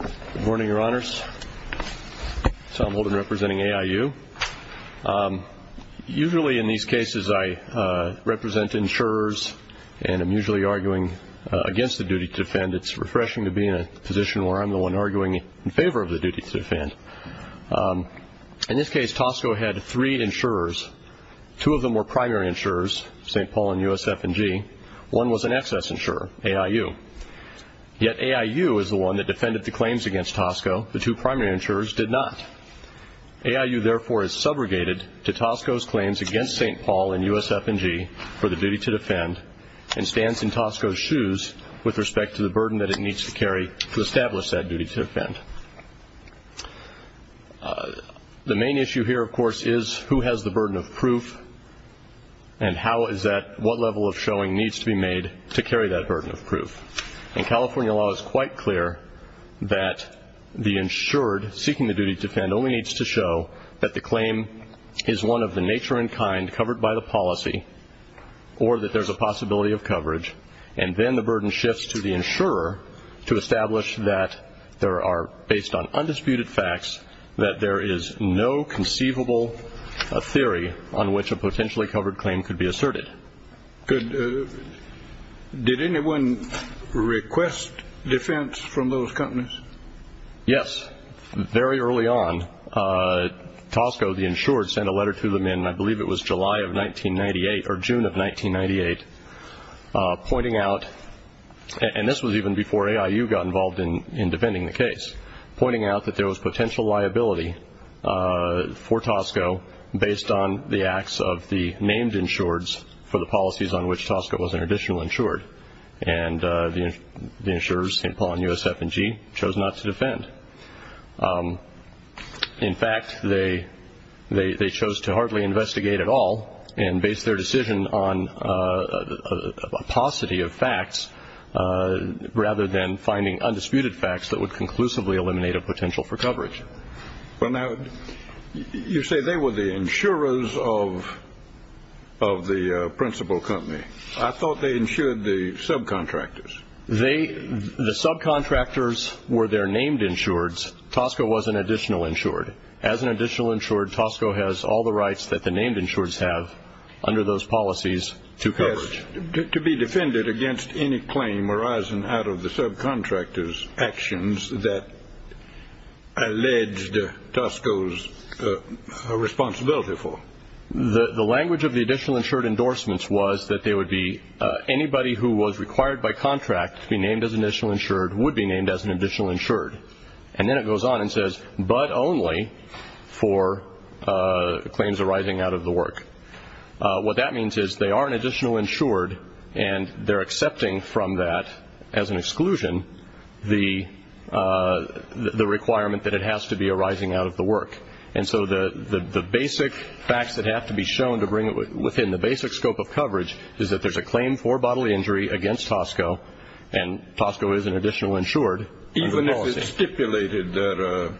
Good morning, Your Honors. Tom Holden representing AIU. Usually in these cases I represent insurers and am usually arguing against the duty to defend. It's refreshing to be in a position where I'm the one arguing in favor of the duty to defend. In this case, Tosco had three insurers. Two of them were primary insurers, St. Paul and USF&G. One was an excess insurer, AIU. Yet AIU is the one that defended the claims against Tosco. The two primary insurers did not. AIU, therefore, is subrogated to Tosco's claims against St. Paul and USF&G for the duty to defend and stands in Tosco's shoes with respect to the burden that it needs to carry to establish that duty to defend. The main issue here, of course, is who has the burden of proof and what level of showing needs to be made to carry that burden of proof. In California law, it's quite clear that the insured seeking the duty to defend only needs to show that the claim is one of the nature and kind covered by the policy or that there's a possibility of coverage, and then the burden shifts to the insurer to establish that there are, based on undisputed facts, that there is no conceivable theory on which a potentially covered claim could be asserted. Did anyone request defense from those companies? Yes. Very early on, Tosco, the insured, sent a letter to them in, I believe it was July of 1998 or June of 1998, pointing out, and this was even before AIU got involved in defending the case, pointing out that there was potential liability for Tosco based on the acts of the named insureds for the policies on which Tosco was an additional insured, and the insurers, St. Paul and USF&G, chose not to defend. In fact, they chose to hardly investigate at all and based their decision on a paucity of facts rather than finding undisputed facts that would conclusively eliminate a potential for coverage. Well, now, you say they were the insurers of the principal company. I thought they insured the subcontractors. The subcontractors were their named insureds. Tosco was an additional insured. As an additional insured, Tosco has all the rights that the named insureds have under those policies to coverage. To be defended against any claim arising out of the subcontractors' actions that alleged Tosco's responsibility for. The language of the additional insured endorsements was that anybody who was required by contract to be named as an additional insured would be named as an additional insured. And then it goes on and says, but only for claims arising out of the work. What that means is they are an additional insured and they're accepting from that, as an exclusion, the requirement that it has to be arising out of the work. And so the basic facts that have to be shown to bring it within the basic scope of coverage is that there's a claim for bodily injury against Tosco and Tosco is an additional insured. Even if it's stipulated that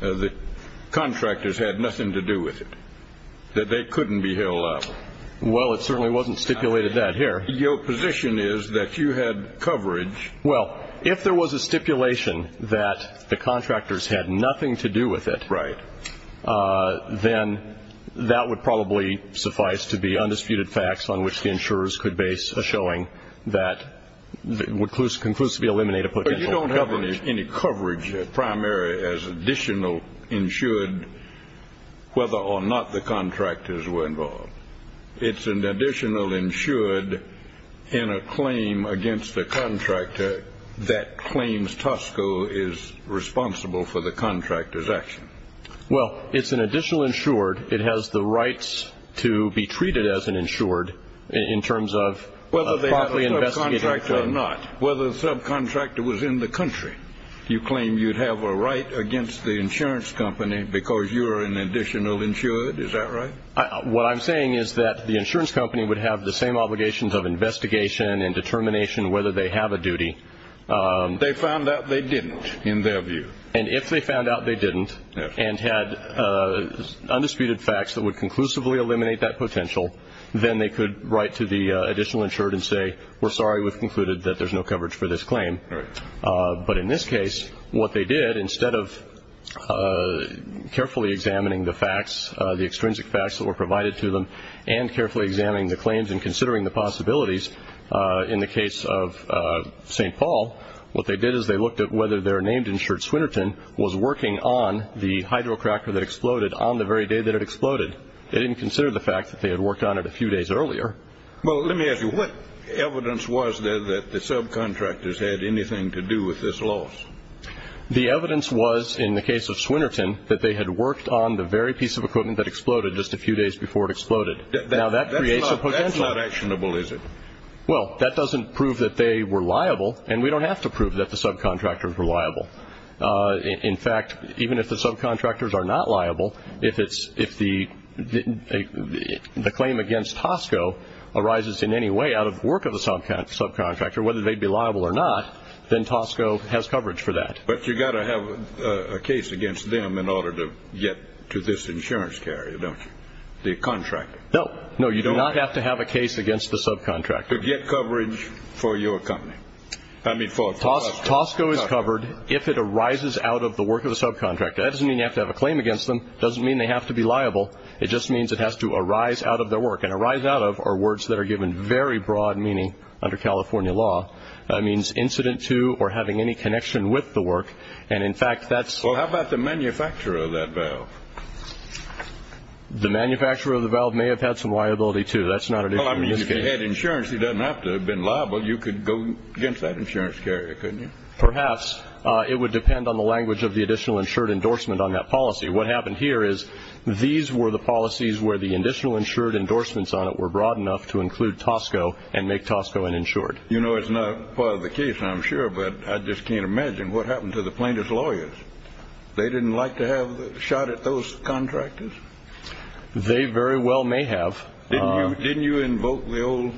the contractors had nothing to do with it, that they couldn't be held up. Well, it certainly wasn't stipulated that here. Your position is that you had coverage. Well, if there was a stipulation that the contractors had nothing to do with it. Right. Then that would probably suffice to be undisputed facts on which the insurers could base a showing that would conclusively eliminate a potential coverage. But you don't have any coverage primary as additional insured whether or not the contractors were involved. It's an additional insured in a claim against a contractor that claims Tosco is responsible for the contractor's action. Well, it's an additional insured. It has the rights to be treated as an insured in terms of whether they invest or not, whether the subcontractor was in the country. You claim you'd have a right against the insurance company because you are an additional insured. Is that right? What I'm saying is that the insurance company would have the same obligations of investigation and determination whether they have a duty. They found out they didn't in their view. And if they found out they didn't and had undisputed facts that would conclusively eliminate that potential, then they could write to the additional insured and say, we're sorry. We've concluded that there's no coverage for this claim. But in this case, what they did instead of carefully examining the facts, the extrinsic facts that were provided to them and carefully examining the claims and considering the possibilities in the case of St. Paul, what they did is they looked at whether their named insured, Swinerton, was working on the hydrocracker that exploded on the very day that it exploded. They didn't consider the fact that they had worked on it a few days earlier. Well, let me ask you, what evidence was there that the subcontractors had anything to do with this loss? The evidence was in the case of Swinerton that they had worked on the very piece of equipment that exploded just a few days before it exploded. Now, that creates a potential. That's not actionable, is it? Well, that doesn't prove that they were liable, and we don't have to prove that the subcontractors were liable. In fact, even if the subcontractors are not liable, if the claim against Tosco arises in any way out of the work of the subcontractor, whether they'd be liable or not, then Tosco has coverage for that. But you've got to have a case against them in order to get to this insurance carrier, don't you, the contractor? No. No, you do not have to have a case against the subcontractor. To get coverage for your company. I mean for Tosco. Tosco is covered if it arises out of the work of the subcontractor. That doesn't mean you have to have a claim against them. It doesn't mean they have to be liable. It just means it has to arise out of their work, and arise out of are words that are given very broad meaning under California law. That means incident to or having any connection with the work, and in fact that's... Well, how about the manufacturer of that valve? The manufacturer of the valve may have had some liability, too. That's not an issue. Well, I mean, if you had insurance, it doesn't have to have been liable. You could go against that insurance carrier, couldn't you? Perhaps. It would depend on the language of the additional insured endorsement on that policy. What happened here is these were the policies where the additional insured endorsements on it were broad enough to include Tosco, and make Tosco uninsured. You know, it's not part of the case, I'm sure, but I just can't imagine what happened to the plaintiff's lawyers. They didn't like to have a shot at those contractors? They very well may have. Didn't you invoke the old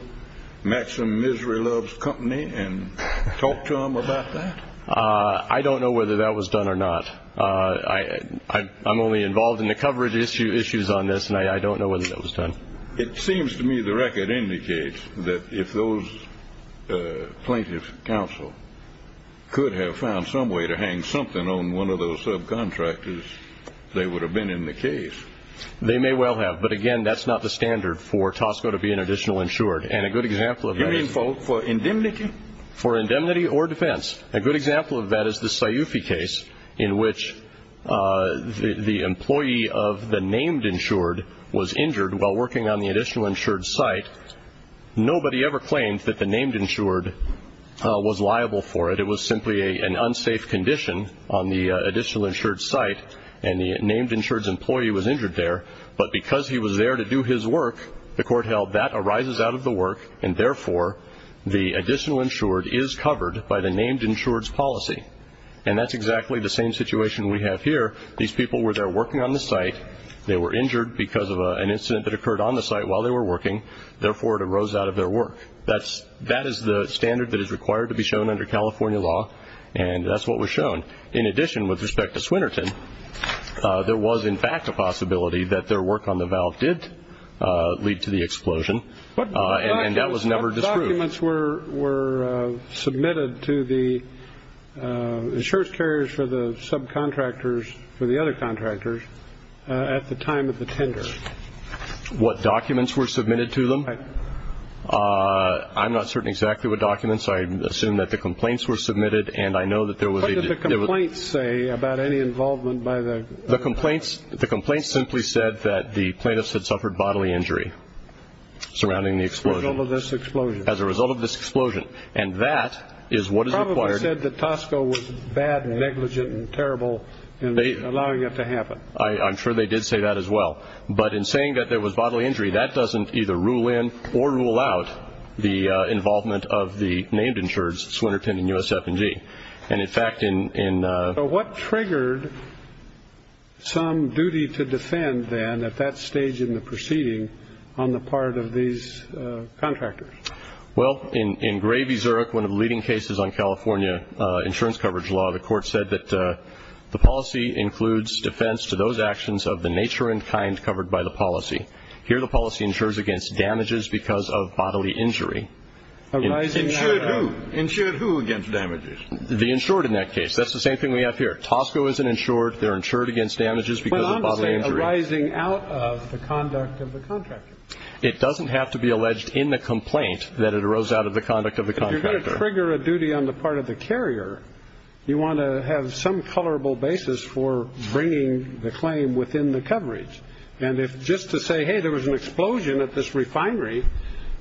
Maxim Misery Loves Company and talk to them about that? I don't know whether that was done or not. I'm only involved in the coverage issues on this, and I don't know whether that was done. It seems to me the record indicates that if those plaintiff's counsel could have found some way to hang something on one of those subcontractors, they would have been in the case. They may well have. But, again, that's not the standard for Tosco to be an additional insured. And a good example of that is... You mean for indemnity? For indemnity or defense. A good example of that is the Sayufi case in which the employee of the named insured was injured while working on the additional insured site. Nobody ever claimed that the named insured was liable for it. It was simply an unsafe condition on the additional insured site, and the named insured's employee was injured there. But because he was there to do his work, the court held that arises out of the work, and, therefore, the additional insured is covered by the named insured's policy. And that's exactly the same situation we have here. These people were there working on the site. They were injured because of an incident that occurred on the site while they were working. Therefore, it arose out of their work. That is the standard that is required to be shown under California law, and that's what was shown. In addition, with respect to Swinerton, there was, in fact, a possibility that their work on the valve did lead to the explosion. And that was never disproved. What documents were submitted to the insurance carriers for the subcontractors, for the other contractors, at the time of the tender? What documents were submitted to them? I'm not certain exactly what documents. I assume that the complaints were submitted, and I know that there was a- The complaints simply said that the plaintiffs had suffered bodily injury surrounding the explosion. As a result of this explosion. As a result of this explosion. And that is what is required- They probably said that Tosco was bad and negligent and terrible in allowing it to happen. I'm sure they did say that as well. But in saying that there was bodily injury, that doesn't either rule in or rule out the involvement of the named insureds, Swinerton and USF&G. And, in fact, in- So what triggered some duty to defend then, at that stage in the proceeding, on the part of these contractors? Well, in Gravy-Zurich, one of the leading cases on California insurance coverage law, the court said that the policy includes defense to those actions of the nature and kind covered by the policy. Here the policy insures against damages because of bodily injury. Insured who? Insured who against damages? The insured in that case. That's the same thing we have here. Tosco isn't insured. They're insured against damages because of bodily injury. But obviously arising out of the conduct of the contractor. It doesn't have to be alleged in the complaint that it arose out of the conduct of the contractor. If you're going to trigger a duty on the part of the carrier, you want to have some colorable basis for bringing the claim within the coverage. And if just to say, hey, there was an explosion at this refinery,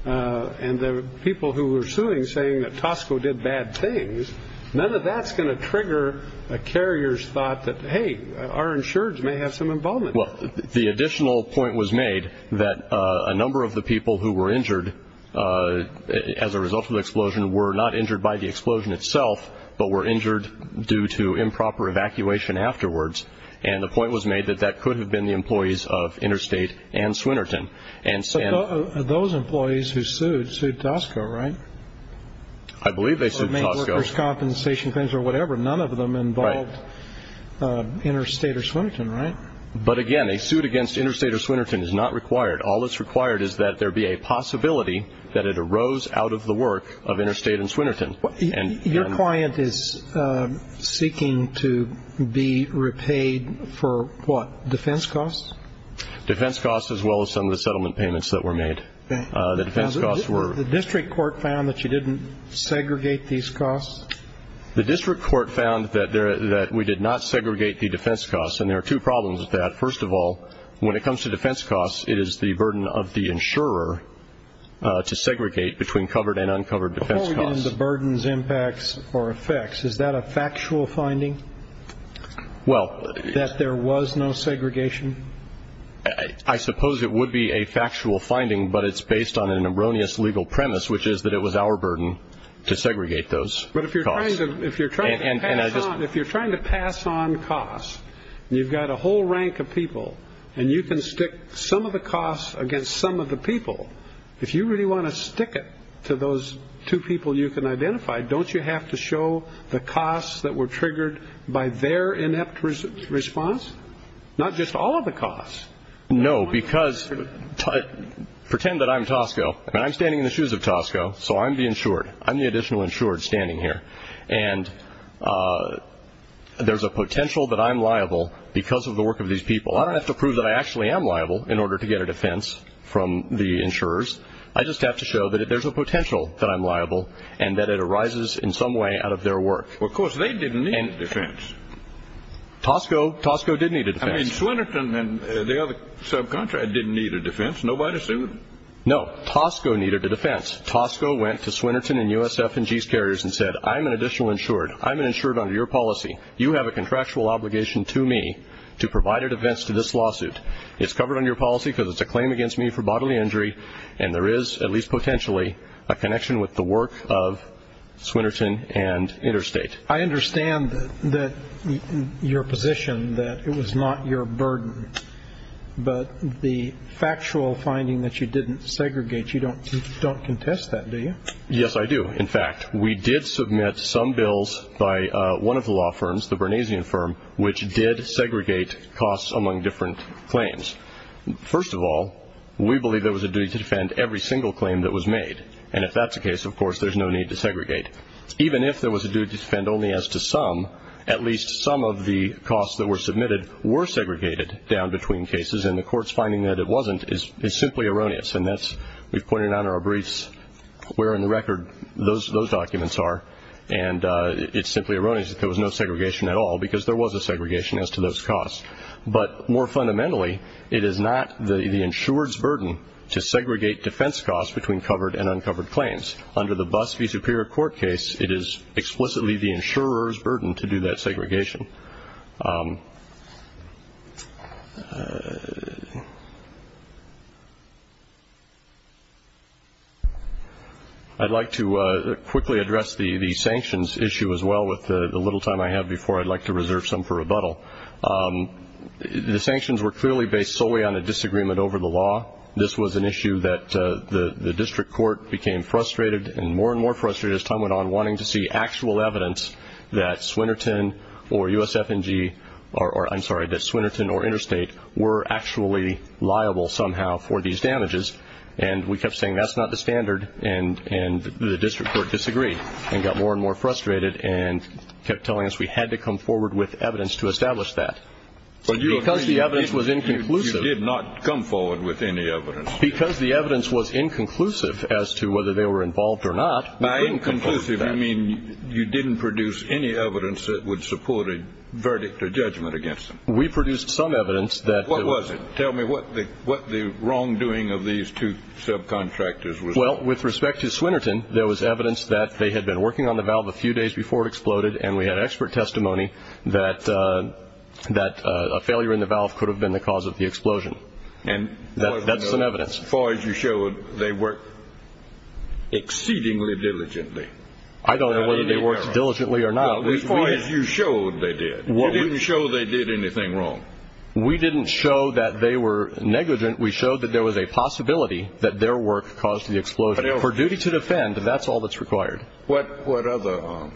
and the people who were suing saying that Tosco did bad things, none of that's going to trigger a carrier's thought that, hey, our insureds may have some involvement. Well, the additional point was made that a number of the people who were injured as a result of the explosion were not injured by the explosion itself but were injured due to improper evacuation afterwards. And the point was made that that could have been the employees of Interstate and Swinerton. Those employees who sued, sued Tosco, right? I believe they sued Tosco. They made workers' compensation claims or whatever. None of them involved Interstate or Swinerton, right? But, again, a suit against Interstate or Swinerton is not required. All that's required is that there be a possibility that it arose out of the work of Interstate and Swinerton. Your client is seeking to be repaid for what, defense costs? Defense costs as well as some of the settlement payments that were made. The district court found that you didn't segregate these costs? The district court found that we did not segregate the defense costs. And there are two problems with that. First of all, when it comes to defense costs, it is the burden of the insurer to segregate between covered and uncovered defense costs. Before we get into burdens, impacts, or effects, is that a factual finding that there was no segregation? I suppose it would be a factual finding, but it's based on an erroneous legal premise, which is that it was our burden to segregate those costs. But if you're trying to pass on costs, and you've got a whole rank of people, and you can stick some of the costs against some of the people, if you really want to stick it to those two people you can identify, don't you have to show the costs that were triggered by their inept response? Not just all of the costs. No, because pretend that I'm Tosco, and I'm standing in the shoes of Tosco, so I'm the insured. I'm the additional insured standing here. And there's a potential that I'm liable because of the work of these people. I don't have to prove that I actually am liable in order to get a defense from the insurers. I just have to show that there's a potential that I'm liable and that it arises in some way out of their work. Well, of course, they didn't need a defense. Tosco did need a defense. I mean, Swinerton and the other subcontractor didn't need a defense. Nobody assumed it. No, Tosco needed a defense. Tosco went to Swinerton and USF&G's carriers and said, I'm an additional insured. I'm an insured under your policy. You have a contractual obligation to me to provide a defense to this lawsuit. It's covered under your policy because it's a claim against me for bodily injury, and there is, at least potentially, a connection with the work of Swinerton and Interstate. I understand your position that it was not your burden, but the factual finding that you didn't segregate, you don't contest that, do you? Yes, I do. In fact, we did submit some bills by one of the law firms, the Bernesian firm, which did segregate costs among different claims. First of all, we believe there was a duty to defend every single claim that was made, and if that's the case, of course, there's no need to segregate. Even if there was a duty to defend only as to some, at least some of the costs that were submitted were segregated down between cases, and the court's finding that it wasn't is simply erroneous, and we've pointed out in our briefs where in the record those documents are, and it's simply erroneous that there was no segregation at all because there was a segregation as to those costs. But more fundamentally, it is not the insured's burden to segregate defense costs between covered and uncovered claims. Under the BUS v. Superior Court case, it is explicitly the insurer's burden to do that segregation. I'd like to quickly address the sanctions issue as well with the little time I have before. I'd like to reserve some for rebuttal. The sanctions were clearly based solely on a disagreement over the law. This was an issue that the district court became frustrated and more and more frustrated as time went on wanting to see actual evidence that Swinerton or USF&G, or I'm sorry, that Swinerton or Interstate were actually liable somehow for these damages, and we kept saying that's not the standard, and the district court disagreed and got more and more frustrated and kept telling us we had to come forward with evidence to establish that. Because the evidence was inconclusive. You did not come forward with any evidence. Because the evidence was inconclusive as to whether they were involved or not, we couldn't come forward with that. By inconclusive, you mean you didn't produce any evidence that would support a verdict or judgment against them. We produced some evidence. What was it? Tell me what the wrongdoing of these two subcontractors was. Well, with respect to Swinerton, there was evidence that they had been working on the valve a few days before it exploded, and we had expert testimony that a failure in the valve could have been the cause of the explosion. That's some evidence. As far as you showed, they worked exceedingly diligently. I don't know whether they worked diligently or not. As far as you showed they did. You didn't show they did anything wrong. We didn't show that they were negligent. We showed that there was a possibility that their work caused the explosion. For duty to defend, that's all that's required. What other?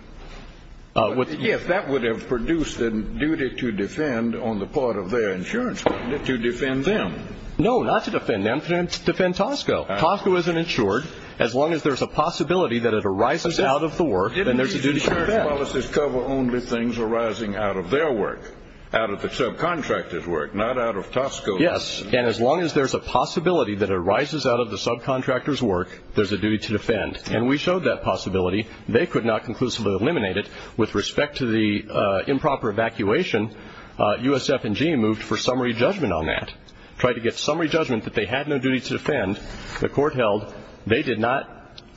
If that would have produced a duty to defend on the part of their insurance company, to defend them. No, not to defend them. To defend Tosco. Tosco isn't insured. As long as there's a possibility that it arises out of the work, then there's a duty to defend. Didn't these insurance policies cover only things arising out of their work, out of the subcontractor's work, not out of Tosco's? Yes, and as long as there's a possibility that it arises out of the subcontractor's work, there's a duty to defend. And we showed that possibility. They could not conclusively eliminate it. With respect to the improper evacuation, USF&G moved for summary judgment on that, tried to get summary judgment that they had no duty to defend. The court held they did not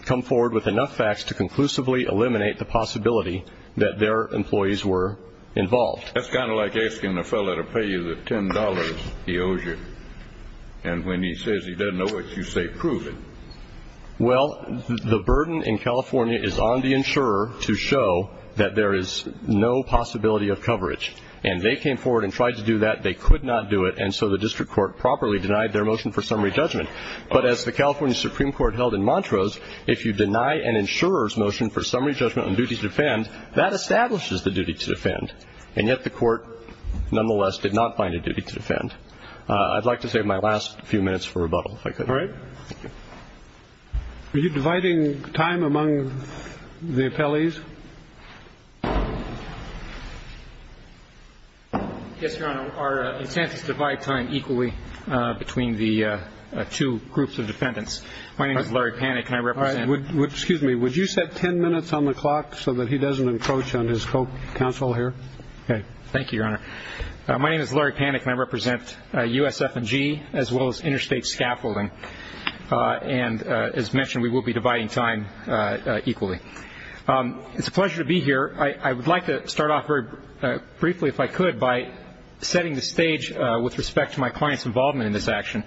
come forward with enough facts to conclusively eliminate the possibility that their employees were involved. That's kind of like asking a fellow to pay you the $10 he owes you, and when he says he doesn't know it, you say prove it. Well, the burden in California is on the insurer to show that there is no possibility of coverage. And they came forward and tried to do that. They could not do it, and so the district court properly denied their motion for summary judgment. But as the California Supreme Court held in Montrose, if you deny an insurer's motion for summary judgment on duty to defend, that establishes the duty to defend. And yet the court, nonetheless, did not find a duty to defend. I'd like to save my last few minutes for rebuttal, if I could. All right. Are you dividing time among the appellees? Yes, Your Honor. Our intent is to divide time equally between the two groups of defendants. My name is Larry Panik, and I represent USF&G as well as Interstate Scaffolding. And as mentioned, we will be dividing time equally. It's a pleasure to be here. I would like to start off very briefly, if I could, by setting the stage with respect to my client's involvement in this action.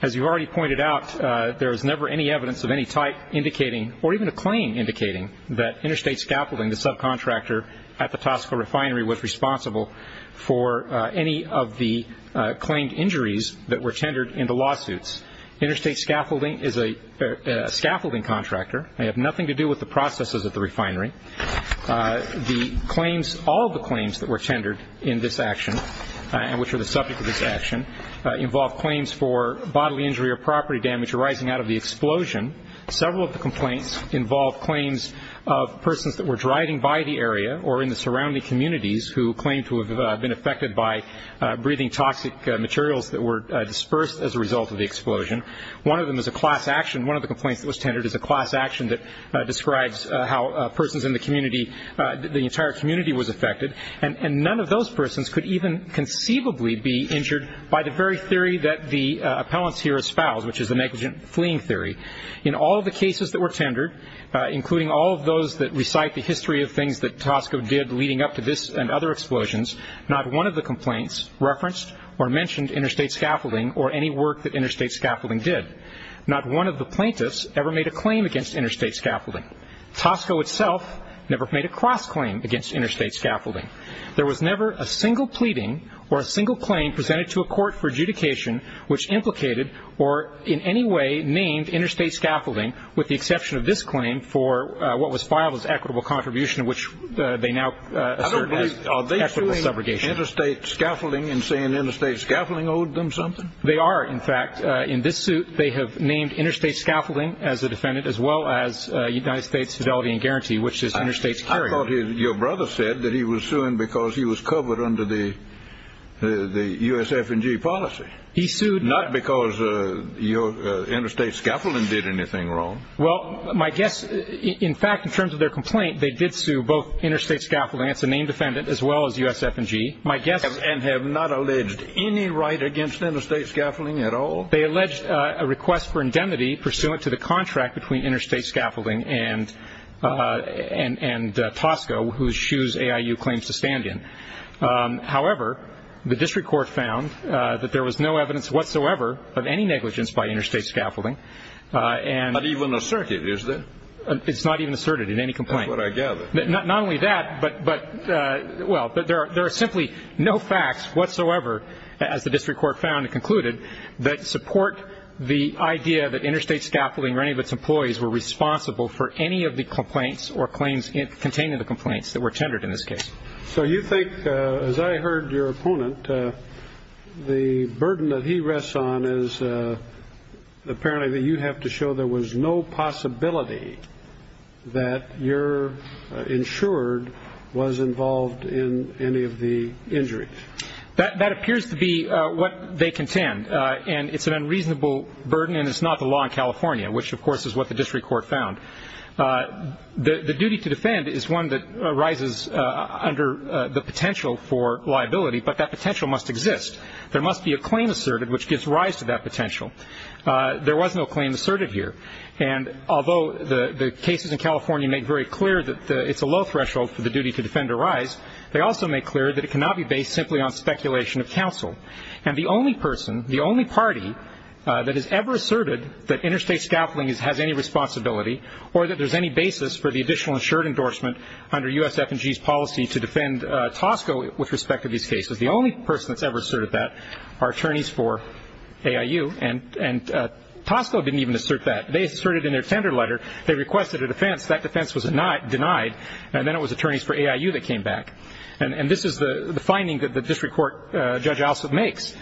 As you already pointed out, there is never any evidence of any type indicating, or even a claim indicating that Interstate Scaffolding, the subcontractor at the Tosco Refinery, was responsible for any of the claimed injuries that were tendered in the lawsuits. Interstate Scaffolding is a scaffolding contractor. They have nothing to do with the processes at the refinery. All of the claims that were tendered in this action, and which are the subject of this action, involve claims for bodily injury or property damage arising out of the explosion. Several of the complaints involve claims of persons that were driving by the area or in the surrounding communities who claim to have been affected by breathing toxic materials that were dispersed as a result of the explosion. One of them is a class action. One of the complaints that was tendered is a class action that describes how persons in the community, the entire community was affected, and none of those persons could even conceivably be injured by the very theory that the appellants here espouse, which is the negligent fleeing theory. In all of the cases that were tendered, including all of those that recite the history of things that Tosco did leading up to this and other explosions, not one of the complaints referenced or mentioned Interstate Scaffolding or any work that Interstate Scaffolding did. Not one of the plaintiffs ever made a claim against Interstate Scaffolding. Tosco itself never made a cross-claim against Interstate Scaffolding. There was never a single pleading or a single claim presented to a court for adjudication which implicated or in any way named Interstate Scaffolding, with the exception of this claim for what was filed as equitable contribution, which they now assert as equitable subrogation. Are they suing Interstate Scaffolding and saying Interstate Scaffolding owed them something? They are, in fact. In this suit, they have named Interstate Scaffolding as the defendant, as well as United States Fidelity and Guarantee, which is Interstate's carrier. I thought your brother said that he was suing because he was covered under the USF&G policy. He sued. Not because Interstate Scaffolding did anything wrong. Well, my guess, in fact, in terms of their complaint, they did sue both Interstate Scaffolding as a named defendant as well as USF&G. And have not alleged any right against Interstate Scaffolding at all? They alleged a request for indemnity pursuant to the contract between Interstate Scaffolding and Tosco, whose shoes AIU claims to stand in. However, the district court found that there was no evidence whatsoever of any negligence by Interstate Scaffolding. Not even asserted, is there? It's not even asserted in any complaint. That's what I gather. Not only that, but, well, there are simply no facts whatsoever, as the district court found and concluded, that support the idea that Interstate Scaffolding or any of its employees were responsible for any of the complaints or claims containing the complaints that were tendered in this case. So you think, as I heard your opponent, the burden that he rests on is apparently that you have to show there was no possibility that your insured was involved in any of the injuries. That appears to be what they contend. And it's an unreasonable burden, and it's not the law in California, which, of course, is what the district court found. The duty to defend is one that arises under the potential for liability, but that potential must exist. There must be a claim asserted which gives rise to that potential. There was no claim asserted here. And although the cases in California make very clear that it's a low threshold for the duty to defend arise, they also make clear that it cannot be based simply on speculation of counsel. And the only person, the only party that has ever asserted that Interstate Scaffolding has any responsibility or that there's any basis for the additional insured endorsement under USF&G's policy to defend Tosco with respect to these cases, the only person that's ever asserted that are attorneys for AIU. And Tosco didn't even assert that. They asserted in their tender letter they requested a defense. That defense was denied. And then it was attorneys for AIU that came back. And this is the finding that the district court judge also makes.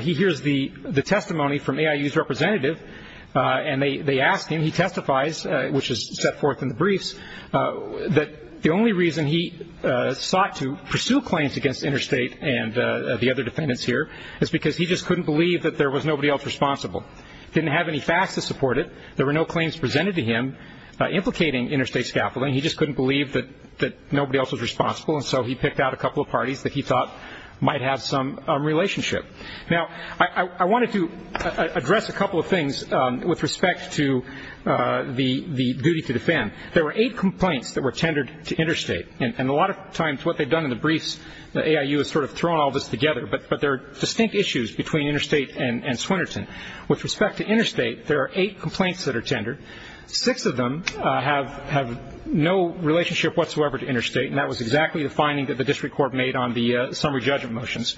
He hears the testimony from AIU's representative, and they ask him. And he testifies, which is set forth in the briefs, that the only reason he sought to pursue claims against Interstate and the other defendants here is because he just couldn't believe that there was nobody else responsible. He didn't have any facts to support it. There were no claims presented to him implicating Interstate Scaffolding. He just couldn't believe that nobody else was responsible, and so he picked out a couple of parties that he thought might have some relationship. Now, I wanted to address a couple of things with respect to the duty to defend. There were eight complaints that were tendered to Interstate, and a lot of times what they've done in the briefs, AIU has sort of thrown all this together, but there are distinct issues between Interstate and Swinerton. With respect to Interstate, there are eight complaints that are tendered. Six of them have no relationship whatsoever to Interstate, and that was exactly the finding that the district court made on the summary judgment motions.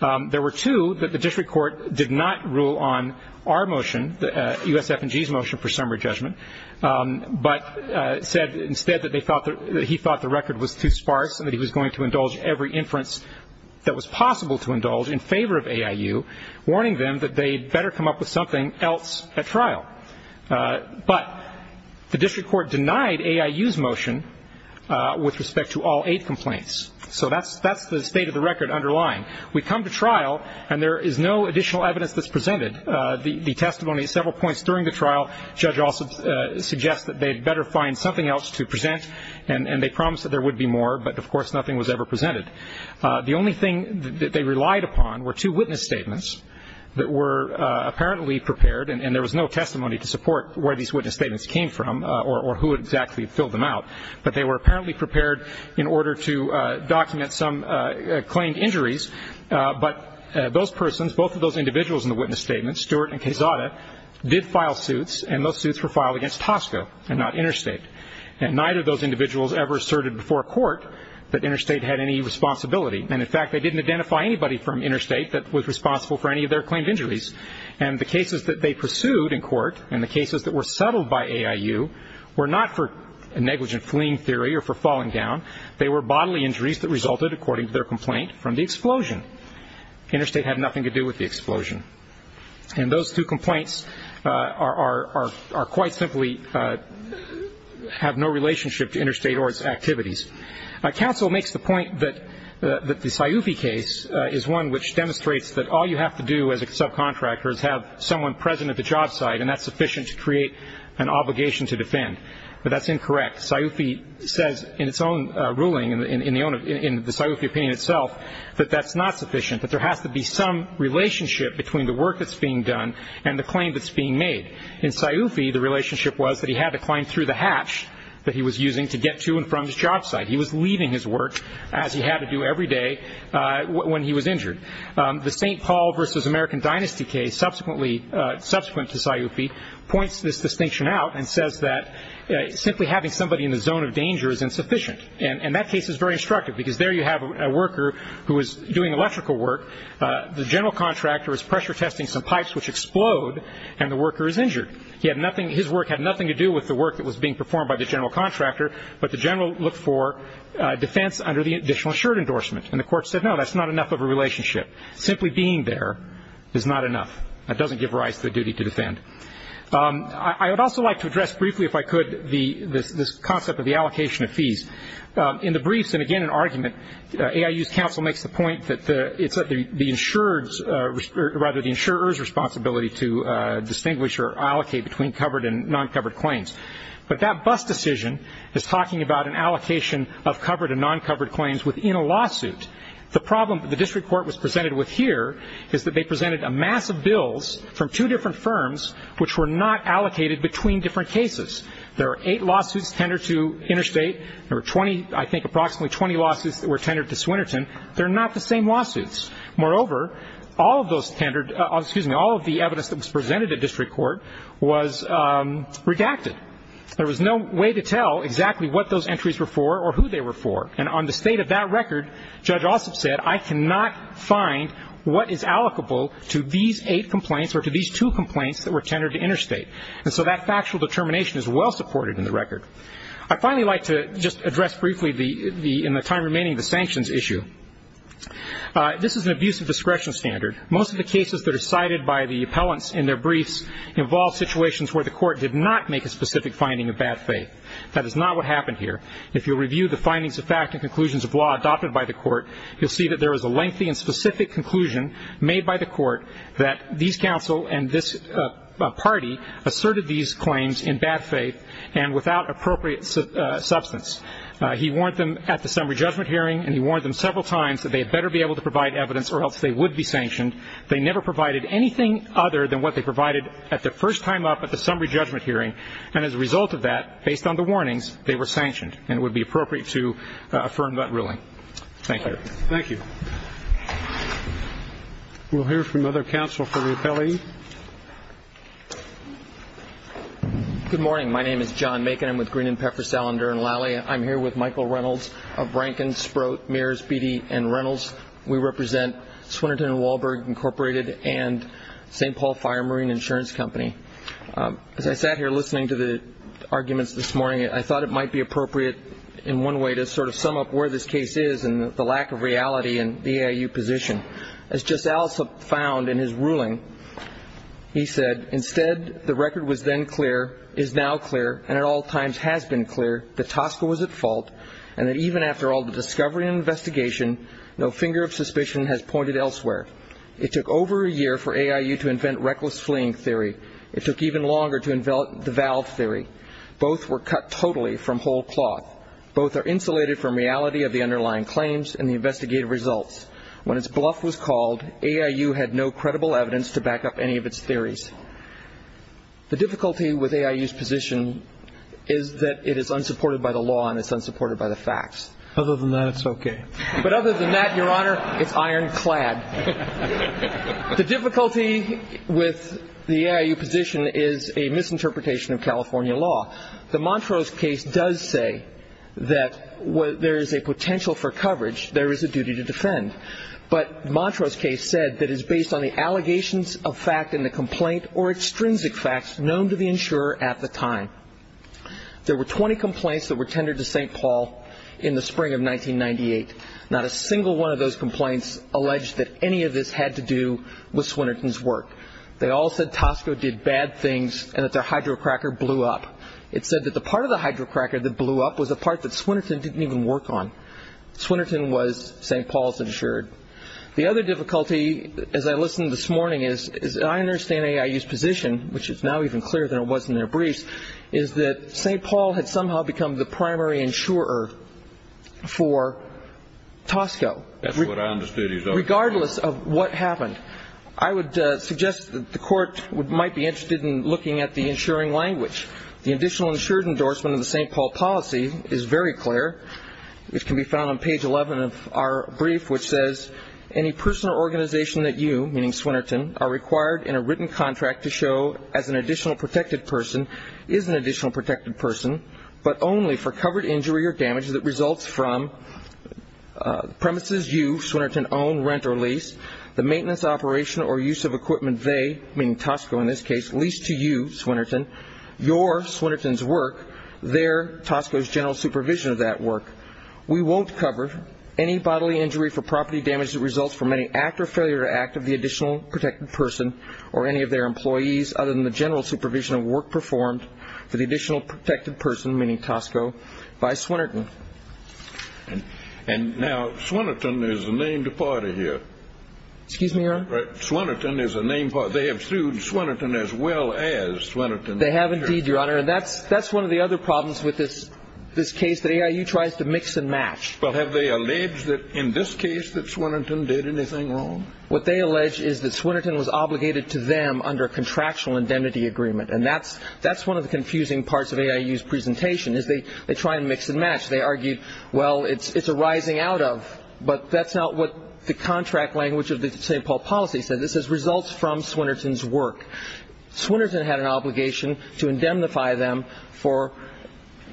There were two that the district court did not rule on our motion, USF&G's motion for summary judgment, but said instead that he thought the record was too sparse and that he was going to indulge every inference that was possible to indulge in favor of AIU, warning them that they'd better come up with something else at trial. But the district court denied AIU's motion with respect to all eight complaints, so that's the state of the record underlying. We come to trial, and there is no additional evidence that's presented. The testimony at several points during the trial, Judge Alsop suggests that they'd better find something else to present, and they promised that there would be more, but of course nothing was ever presented. The only thing that they relied upon were two witness statements that were apparently prepared, and there was no testimony to support where these witness statements came from or who exactly filled them out, but they were apparently prepared in order to document some claimed injuries, but those persons, both of those individuals in the witness statements, Stewart and Quezada, did file suits, and those suits were filed against Tosco and not Interstate, and neither of those individuals ever asserted before court that Interstate had any responsibility, and in fact they didn't identify anybody from Interstate that was responsible for any of their claimed injuries, and the cases that they pursued in court and the cases that were settled by AIU were not for negligent fleeing theory or for falling down. They were bodily injuries that resulted, according to their complaint, from the explosion. Interstate had nothing to do with the explosion, and those two complaints are quite simply have no relationship to Interstate or its activities. Counsel makes the point that the Sciufi case is one which demonstrates that all you have to do as a subcontractor is have someone present at the job site, and that's sufficient to create an obligation to defend, but that's incorrect. Sciufi says in its own ruling, in the Sciufi opinion itself, that that's not sufficient, that there has to be some relationship between the work that's being done and the claim that's being made. In Sciufi, the relationship was that he had to climb through the hatch that he was using to get to and from his job site. He was leaving his work as he had to do every day when he was injured. The St. Paul v. American Dynasty case subsequent to Sciufi points this distinction out and says that simply having somebody in the zone of danger is insufficient, and that case is very instructive because there you have a worker who is doing electrical work. The general contractor is pressure testing some pipes which explode, and the worker is injured. His work had nothing to do with the work that was being performed by the general contractor, but the general looked for defense under the additional assured endorsement, and the court said no, that's not enough of a relationship. Simply being there is not enough. That doesn't give rise to the duty to defend. I would also like to address briefly, if I could, this concept of the allocation of fees. In the briefs, and again in argument, AIU's counsel makes the point that it's the insurer's responsibility to distinguish or allocate between covered and non-covered claims, but that BUS decision is talking about an allocation of covered and non-covered claims within a lawsuit. The problem that the district court was presented with here is that they presented a mass of bills from two different firms which were not allocated between different cases. There were eight lawsuits tendered to Interstate. There were, I think, approximately 20 lawsuits that were tendered to Swinerton. They're not the same lawsuits. Moreover, all of the evidence that was presented at district court was redacted. There was no way to tell exactly what those entries were for or who they were for, and on the state of that record, Judge Ossoff said, I cannot find what is allocable to these eight complaints or to these two complaints that were tendered to Interstate. And so that factual determination is well supported in the record. I'd finally like to just address briefly in the time remaining the sanctions issue. This is an abuse of discretion standard. Most of the cases that are cited by the appellants in their briefs involve situations where the court did not make a specific finding of bad faith. That is not what happened here. If you review the findings of fact and conclusions of law adopted by the court, you'll see that there was a lengthy and specific conclusion made by the court that these counsel and this party asserted these claims in bad faith and without appropriate substance. He warned them at the summary judgment hearing, and he warned them several times that they had better be able to provide evidence or else they would be sanctioned. They never provided anything other than what they provided at the first time up at the summary judgment hearing, and as a result of that, based on the warnings, they were sanctioned, and it would be appropriate to affirm that ruling. Thank you. Thank you. We'll hear from other counsel for the appellee. Good morning. My name is John Macon. I'm with Green and Pepper, Salander & Lally. I'm here with Michael Reynolds of Rankin, Sprott, Mears, Beattie & Reynolds. We represent Swinerton & Wahlberg, Incorporated, and St. Paul Fire Marine Insurance Company. As I sat here listening to the arguments this morning, I thought it might be appropriate in one way to sort of sum up where this case is and the lack of reality in the EIU position. As Justice Allison found in his ruling, he said, Instead, the record was then clear, is now clear, and at all times has been clear that Tosca was at fault and that even after all the discovery and investigation, no finger of suspicion has pointed elsewhere. It took over a year for EIU to invent reckless fleeing theory. It took even longer to develop the valve theory. Both were cut totally from whole cloth. Both are insulated from reality of the underlying claims and the investigative results. When its bluff was called, EIU had no credible evidence to back up any of its theories. The difficulty with EIU's position is that it is unsupported by the law and it's unsupported by the facts. Other than that, it's okay. But other than that, Your Honor, it's ironclad. The difficulty with the EIU position is a misinterpretation of California law. The Montrose case does say that there is a potential for coverage. There is a duty to defend. But Montrose case said that it's based on the allegations of fact in the complaint or extrinsic facts known to the insurer at the time. There were 20 complaints that were tendered to St. Paul in the spring of 1998. Not a single one of those complaints alleged that any of this had to do with Swinerton's work. They all said Tosco did bad things and that their hydrocracker blew up. It said that the part of the hydrocracker that blew up was a part that Swinerton didn't even work on. Swinerton was St. Paul's insured. The other difficulty, as I listened this morning, is that I understand EIU's position, which is now even clearer than it was in their briefs, is that St. Paul had somehow become the primary insurer for Tosco regardless of what happened. I would suggest that the Court might be interested in looking at the insuring language. The additional insured endorsement of the St. Paul policy is very clear. It can be found on page 11 of our brief, which says, any person or organization that you, meaning Swinerton, are required in a written contract to show as an additional protected person is an additional protected person, but only for covered injury or damage that results from premises you, Swinerton, own, rent, or lease, the maintenance, operation, or use of equipment they, meaning Tosco in this case, lease to you, Swinerton, your, Swinerton's work, their, Tosco's general supervision of that work. We won't cover any bodily injury for property damage that results from any act or failure to act of the additional protected person or any of their employees other than the general supervision of work performed for the additional protected person, meaning Tosco, by Swinerton. And now Swinerton is a named party here. Excuse me, Your Honor? Swinerton is a named party. They have sued Swinerton as well as Swinerton. They have indeed, Your Honor. And that's one of the other problems with this case, that AIU tries to mix and match. But have they alleged that in this case that Swinerton did anything wrong? What they allege is that Swinerton was obligated to them under a contractual indemnity agreement. And that's one of the confusing parts of AIU's presentation is they try and mix and match. They argue, well, it's a rising out of, but that's not what the contract language of the St. Paul policy said. This is results from Swinerton's work. Swinerton had an obligation to indemnify them for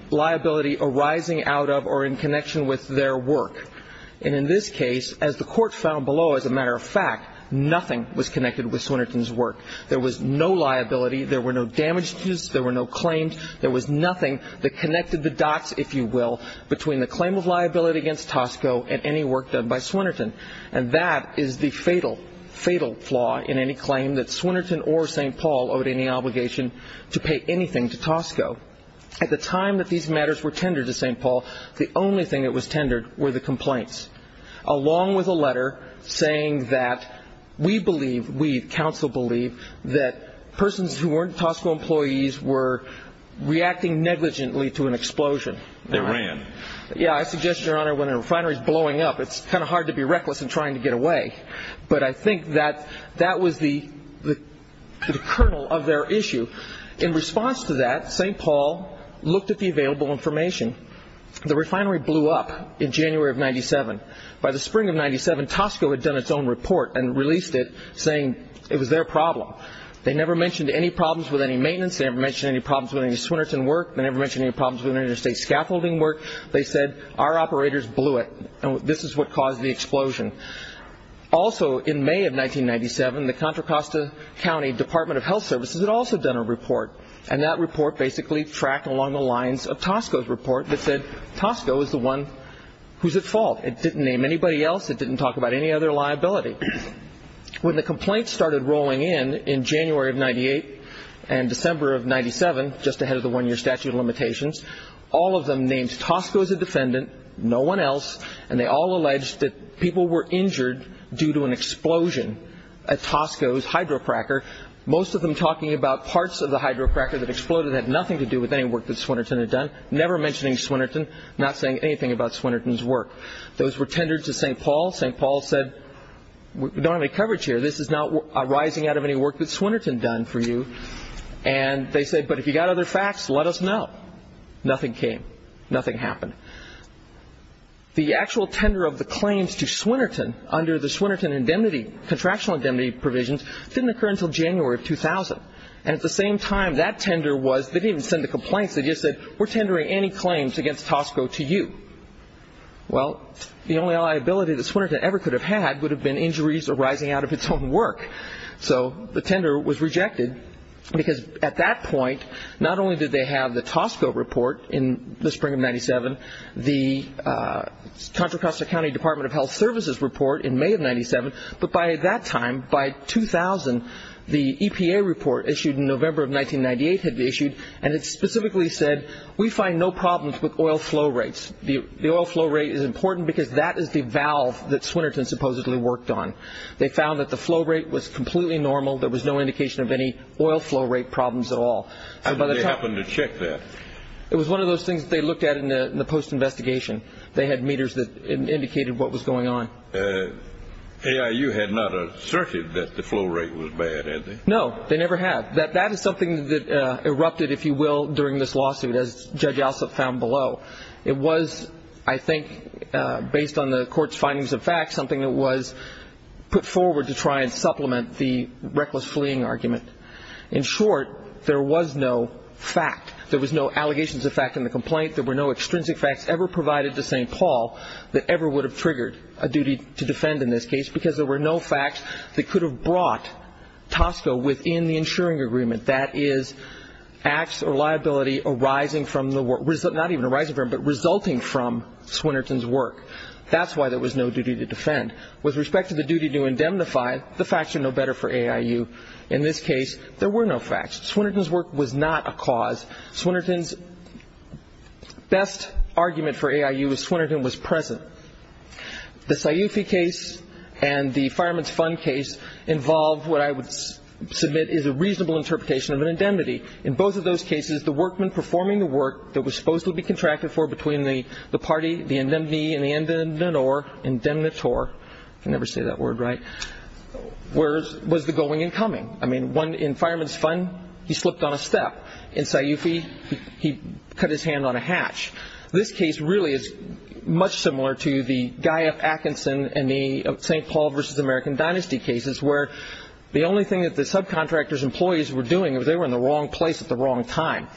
liability arising out of or in connection with their work. And in this case, as the Court found below, as a matter of fact, nothing was connected with Swinerton's work. There was no liability. There were no damages. There were no claims. There was nothing that connected the dots, if you will, between the claim of liability against Tosco and any work done by Swinerton. And that is the fatal, fatal flaw in any claim that Swinerton or St. Paul owed any obligation to pay anything to Tosco. At the time that these matters were tendered to St. Paul, the only thing that was tendered were the complaints, along with a letter saying that we believe, we, counsel, believe that persons who weren't Tosco employees were reacting negligently to an explosion. They ran. Yeah, I suggest, Your Honor, when a refinery is blowing up, it's kind of hard to be reckless in trying to get away. But I think that that was the kernel of their issue. In response to that, St. Paul looked at the available information. The refinery blew up in January of 1997. By the spring of 1997, Tosco had done its own report and released it saying it was their problem. They never mentioned any problems with any maintenance. They never mentioned any problems with any Swinerton work. They never mentioned any problems with any of their state scaffolding work. They said our operators blew it, and this is what caused the explosion. Also in May of 1997, the Contra Costa County Department of Health Services had also done a report, and that report basically tracked along the lines of Tosco's report that said Tosco is the one who's at fault. It didn't name anybody else. It didn't talk about any other liability. When the complaints started rolling in in January of 1998 and December of 1997, just ahead of the one-year statute of limitations, all of them named Tosco as a defendant, no one else, and they all alleged that people were injured due to an explosion at Tosco's hydrocracker, most of them talking about parts of the hydrocracker that exploded that had nothing to do with any work that Swinerton had done, never mentioning Swinerton, not saying anything about Swinerton's work. Those were tendered to St. Paul. St. Paul said, we don't have any coverage here. This is not arising out of any work that Swinerton done for you. And they said, but if you've got other facts, let us know. Nothing came. Nothing happened. The actual tender of the claims to Swinerton under the Swinerton indemnity, contractual indemnity provisions, didn't occur until January of 2000, and at the same time that tender was, they didn't even send the complaints. They just said, we're tendering any claims against Tosco to you. Well, the only liability that Swinerton ever could have had would have been injuries arising out of its own work. So the tender was rejected because at that point, not only did they have the Tosco report in the spring of 1997, the Contra Costa County Department of Health Services report in May of 1997, but by that time, by 2000, the EPA report issued in November of 1998 had been issued, and it specifically said, we find no problems with oil flow rates. The oil flow rate is important because that is the valve that Swinerton supposedly worked on. They found that the flow rate was completely normal. There was no indication of any oil flow rate problems at all. So they happened to check that. It was one of those things that they looked at in the post-investigation. They had meters that indicated what was going on. AIU had not asserted that the flow rate was bad, had they? No, they never have. That is something that erupted, if you will, during this lawsuit, as Judge Alsop found below. It was, I think, based on the court's findings of facts, something that was put forward to try and supplement the reckless fleeing argument. In short, there was no fact. There was no allegations of fact in the complaint. There were no extrinsic facts ever provided to St. Paul that ever would have triggered a duty to defend in this case because there were no facts that could have brought Tosco within the insuring agreement. That is, acts or liability arising from the work, not even arising from, but resulting from Swinerton's work. That's why there was no duty to defend. With respect to the duty to indemnify, the facts are no better for AIU. In this case, there were no facts. Swinerton's work was not a cause. Swinerton's best argument for AIU was Swinerton was present. The Sciufi case and the Fireman's Fund case involve what I would submit is a reasonable interpretation of indemnity. In both of those cases, the workman performing the work that was supposed to be contracted for between the party, the indemnee and the indemnator, I can never say that word right, was the going and coming. I mean, in Fireman's Fund, he slipped on a step. In Sciufi, he cut his hand on a hatch. This case really is much similar to the Guy F. Atchison and the St. Paul v. American Dynasty cases where the only thing that the subcontractor's employees were doing was they were in the wrong place at the wrong time,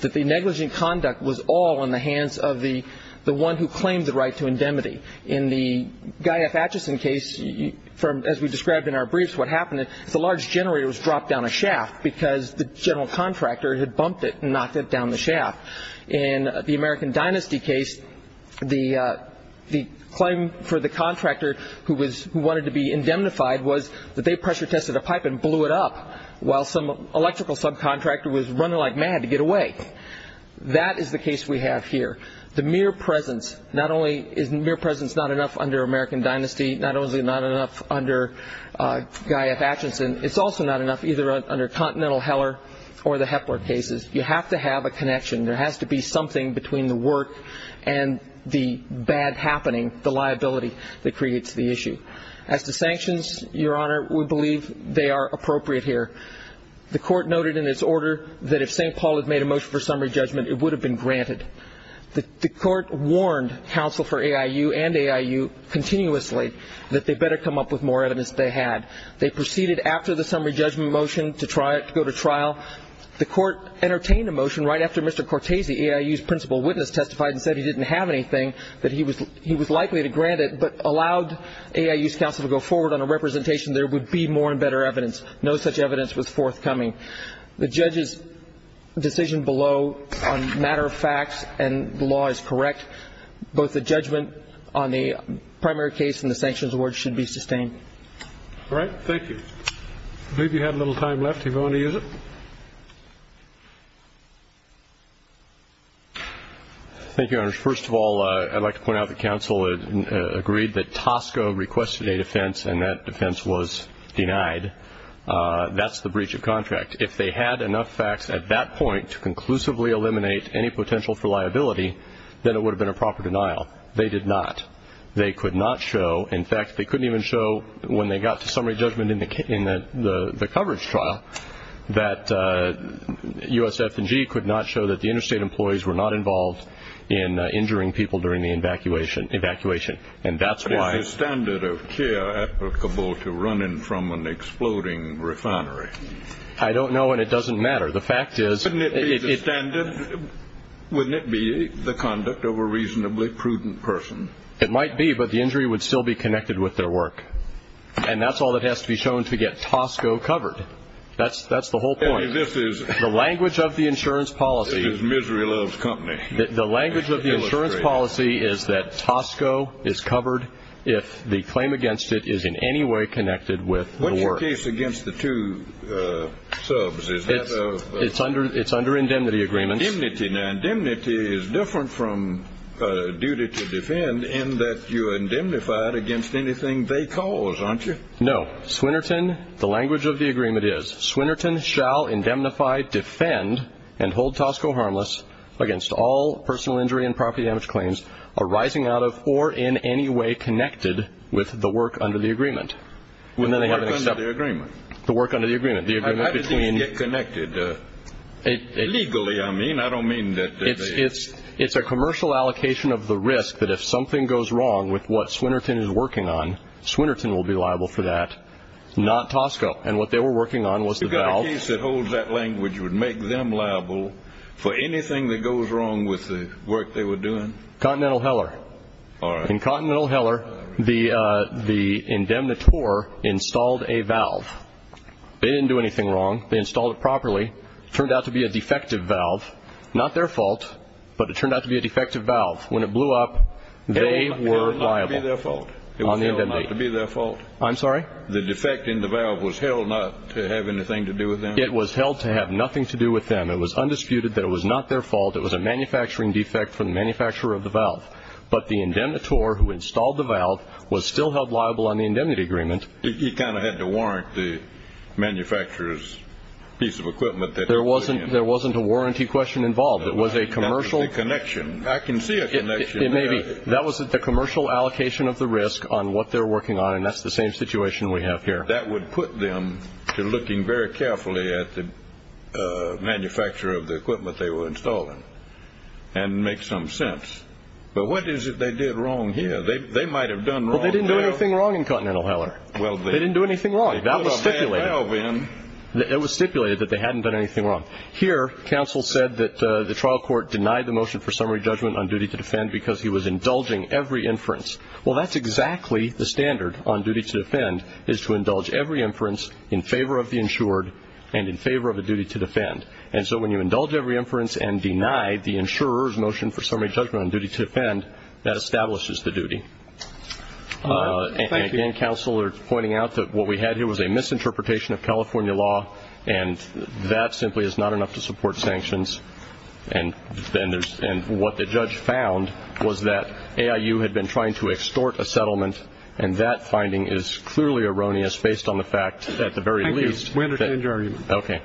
that the negligent conduct was all in the hands of the one who claimed the right to indemnity. In the Guy F. Atchison case, as we described in our briefs, what happened is the large generator was dropped down a shaft because the general contractor had bumped it and knocked it down the shaft. In the American Dynasty case, the claim for the contractor who wanted to be indemnified was that they pressure tested a pipe and blew it up while some electrical subcontractor was running like mad to get away. That is the case we have here. The mere presence, not only is mere presence not enough under American Dynasty, not only not enough under Guy F. Atchison, it's also not enough either under Continental Heller or the Hepler cases. You have to have a connection. There has to be something between the work and the bad happening, the liability that creates the issue. As to sanctions, Your Honor, we believe they are appropriate here. The Court noted in its order that if St. Paul had made a motion for summary judgment, it would have been granted. The Court warned counsel for AIU and AIU continuously that they better come up with more evidence than they had. Now, the Court entertained a motion right after Mr. Cortese, AIU's principal witness, testified and said he didn't have anything, that he was likely to grant it, but allowed AIU's counsel to go forward on a representation there would be more and better evidence. No such evidence was forthcoming. The judge's decision below on matter of fact and the law is correct. Both the judgment on the primary case and the sanctions award should be sustained. All right. Thank you. I believe you have a little time left if you want to use it. Thank you, Your Honor. First of all, I'd like to point out that counsel agreed that Tosco requested a defense and that defense was denied. That's the breach of contract. If they had enough facts at that point to conclusively eliminate any potential for liability, then it would have been a proper denial. They did not. They could not show, in fact, they couldn't even show when they got to summary judgment in the coverage trial, that USF&G could not show that the interstate employees were not involved in injuring people during the evacuation. Is the standard of care applicable to running from an exploding refinery? I don't know, and it doesn't matter. Wouldn't it be the standard? Wouldn't it be the conduct of a reasonably prudent person? It might be, but the injury would still be connected with their work. And that's all that has to be shown to get Tosco covered. That's the whole point. The language of the insurance policy is misery loves company. The language of the insurance policy is that Tosco is covered if the claim against it is in any way connected with the work. What about the case against the two subs? It's under indemnity agreements. Indemnity. Indemnity is different from duty to defend in that you are indemnified against anything they cause, aren't you? No. Swinerton, the language of the agreement is, Swinerton shall indemnify, defend, and hold Tosco harmless against all personal injury and property damage claims arising out of or in any way connected with the work under the agreement. The work under the agreement. The work under the agreement. How does this get connected? Legally, I mean. I don't mean that they It's a commercial allocation of the risk that if something goes wrong with what Swinerton is working on, Swinerton will be liable for that, not Tosco. And what they were working on was the valve You've got a case that holds that language would make them liable for anything that goes wrong with the work they were doing? Continental Heller. All right. In Continental Heller, the indemnitore installed a valve. They didn't do anything wrong. They installed it properly. It turned out to be a defective valve. Not their fault, but it turned out to be a defective valve. When it blew up, they were liable. It was held not to be their fault. I'm sorry? The defect in the valve was held not to have anything to do with them. It was held to have nothing to do with them. It was undisputed that it was not their fault. It was a manufacturing defect from the manufacturer of the valve. But the indemnitore who installed the valve was still held liable on the indemnity agreement. You kind of had to warrant the manufacturer's piece of equipment that they were putting in. There wasn't a warranty question involved. It was a commercial That was the connection. I can see a connection. It may be. That was the commercial allocation of the risk on what they were working on. And that's the same situation we have here. That would put them to looking very carefully at the manufacturer of the equipment they were installing. And make some sense. But what is it they did wrong here? They might have done wrong. Well, they didn't do anything wrong in Continental Heller. They didn't do anything wrong. That was stipulated. It was stipulated that they hadn't done anything wrong. Here, counsel said that the trial court denied the motion for summary judgment on duty to defend because he was indulging every inference. Well, that's exactly the standard on duty to defend is to indulge every inference in favor of the insured and in favor of the duty to defend. And so when you indulge every inference and deny the insurer's motion for summary judgment on duty to defend, that establishes the duty. Thank you. Again, counsel are pointing out that what we had here was a misinterpretation of California law, and that simply is not enough to support sanctions. And what the judge found was that AIU had been trying to extort a settlement, and that finding is clearly erroneous based on the fact at the very least. Thank you. We understand your argument. Okay. Thank you.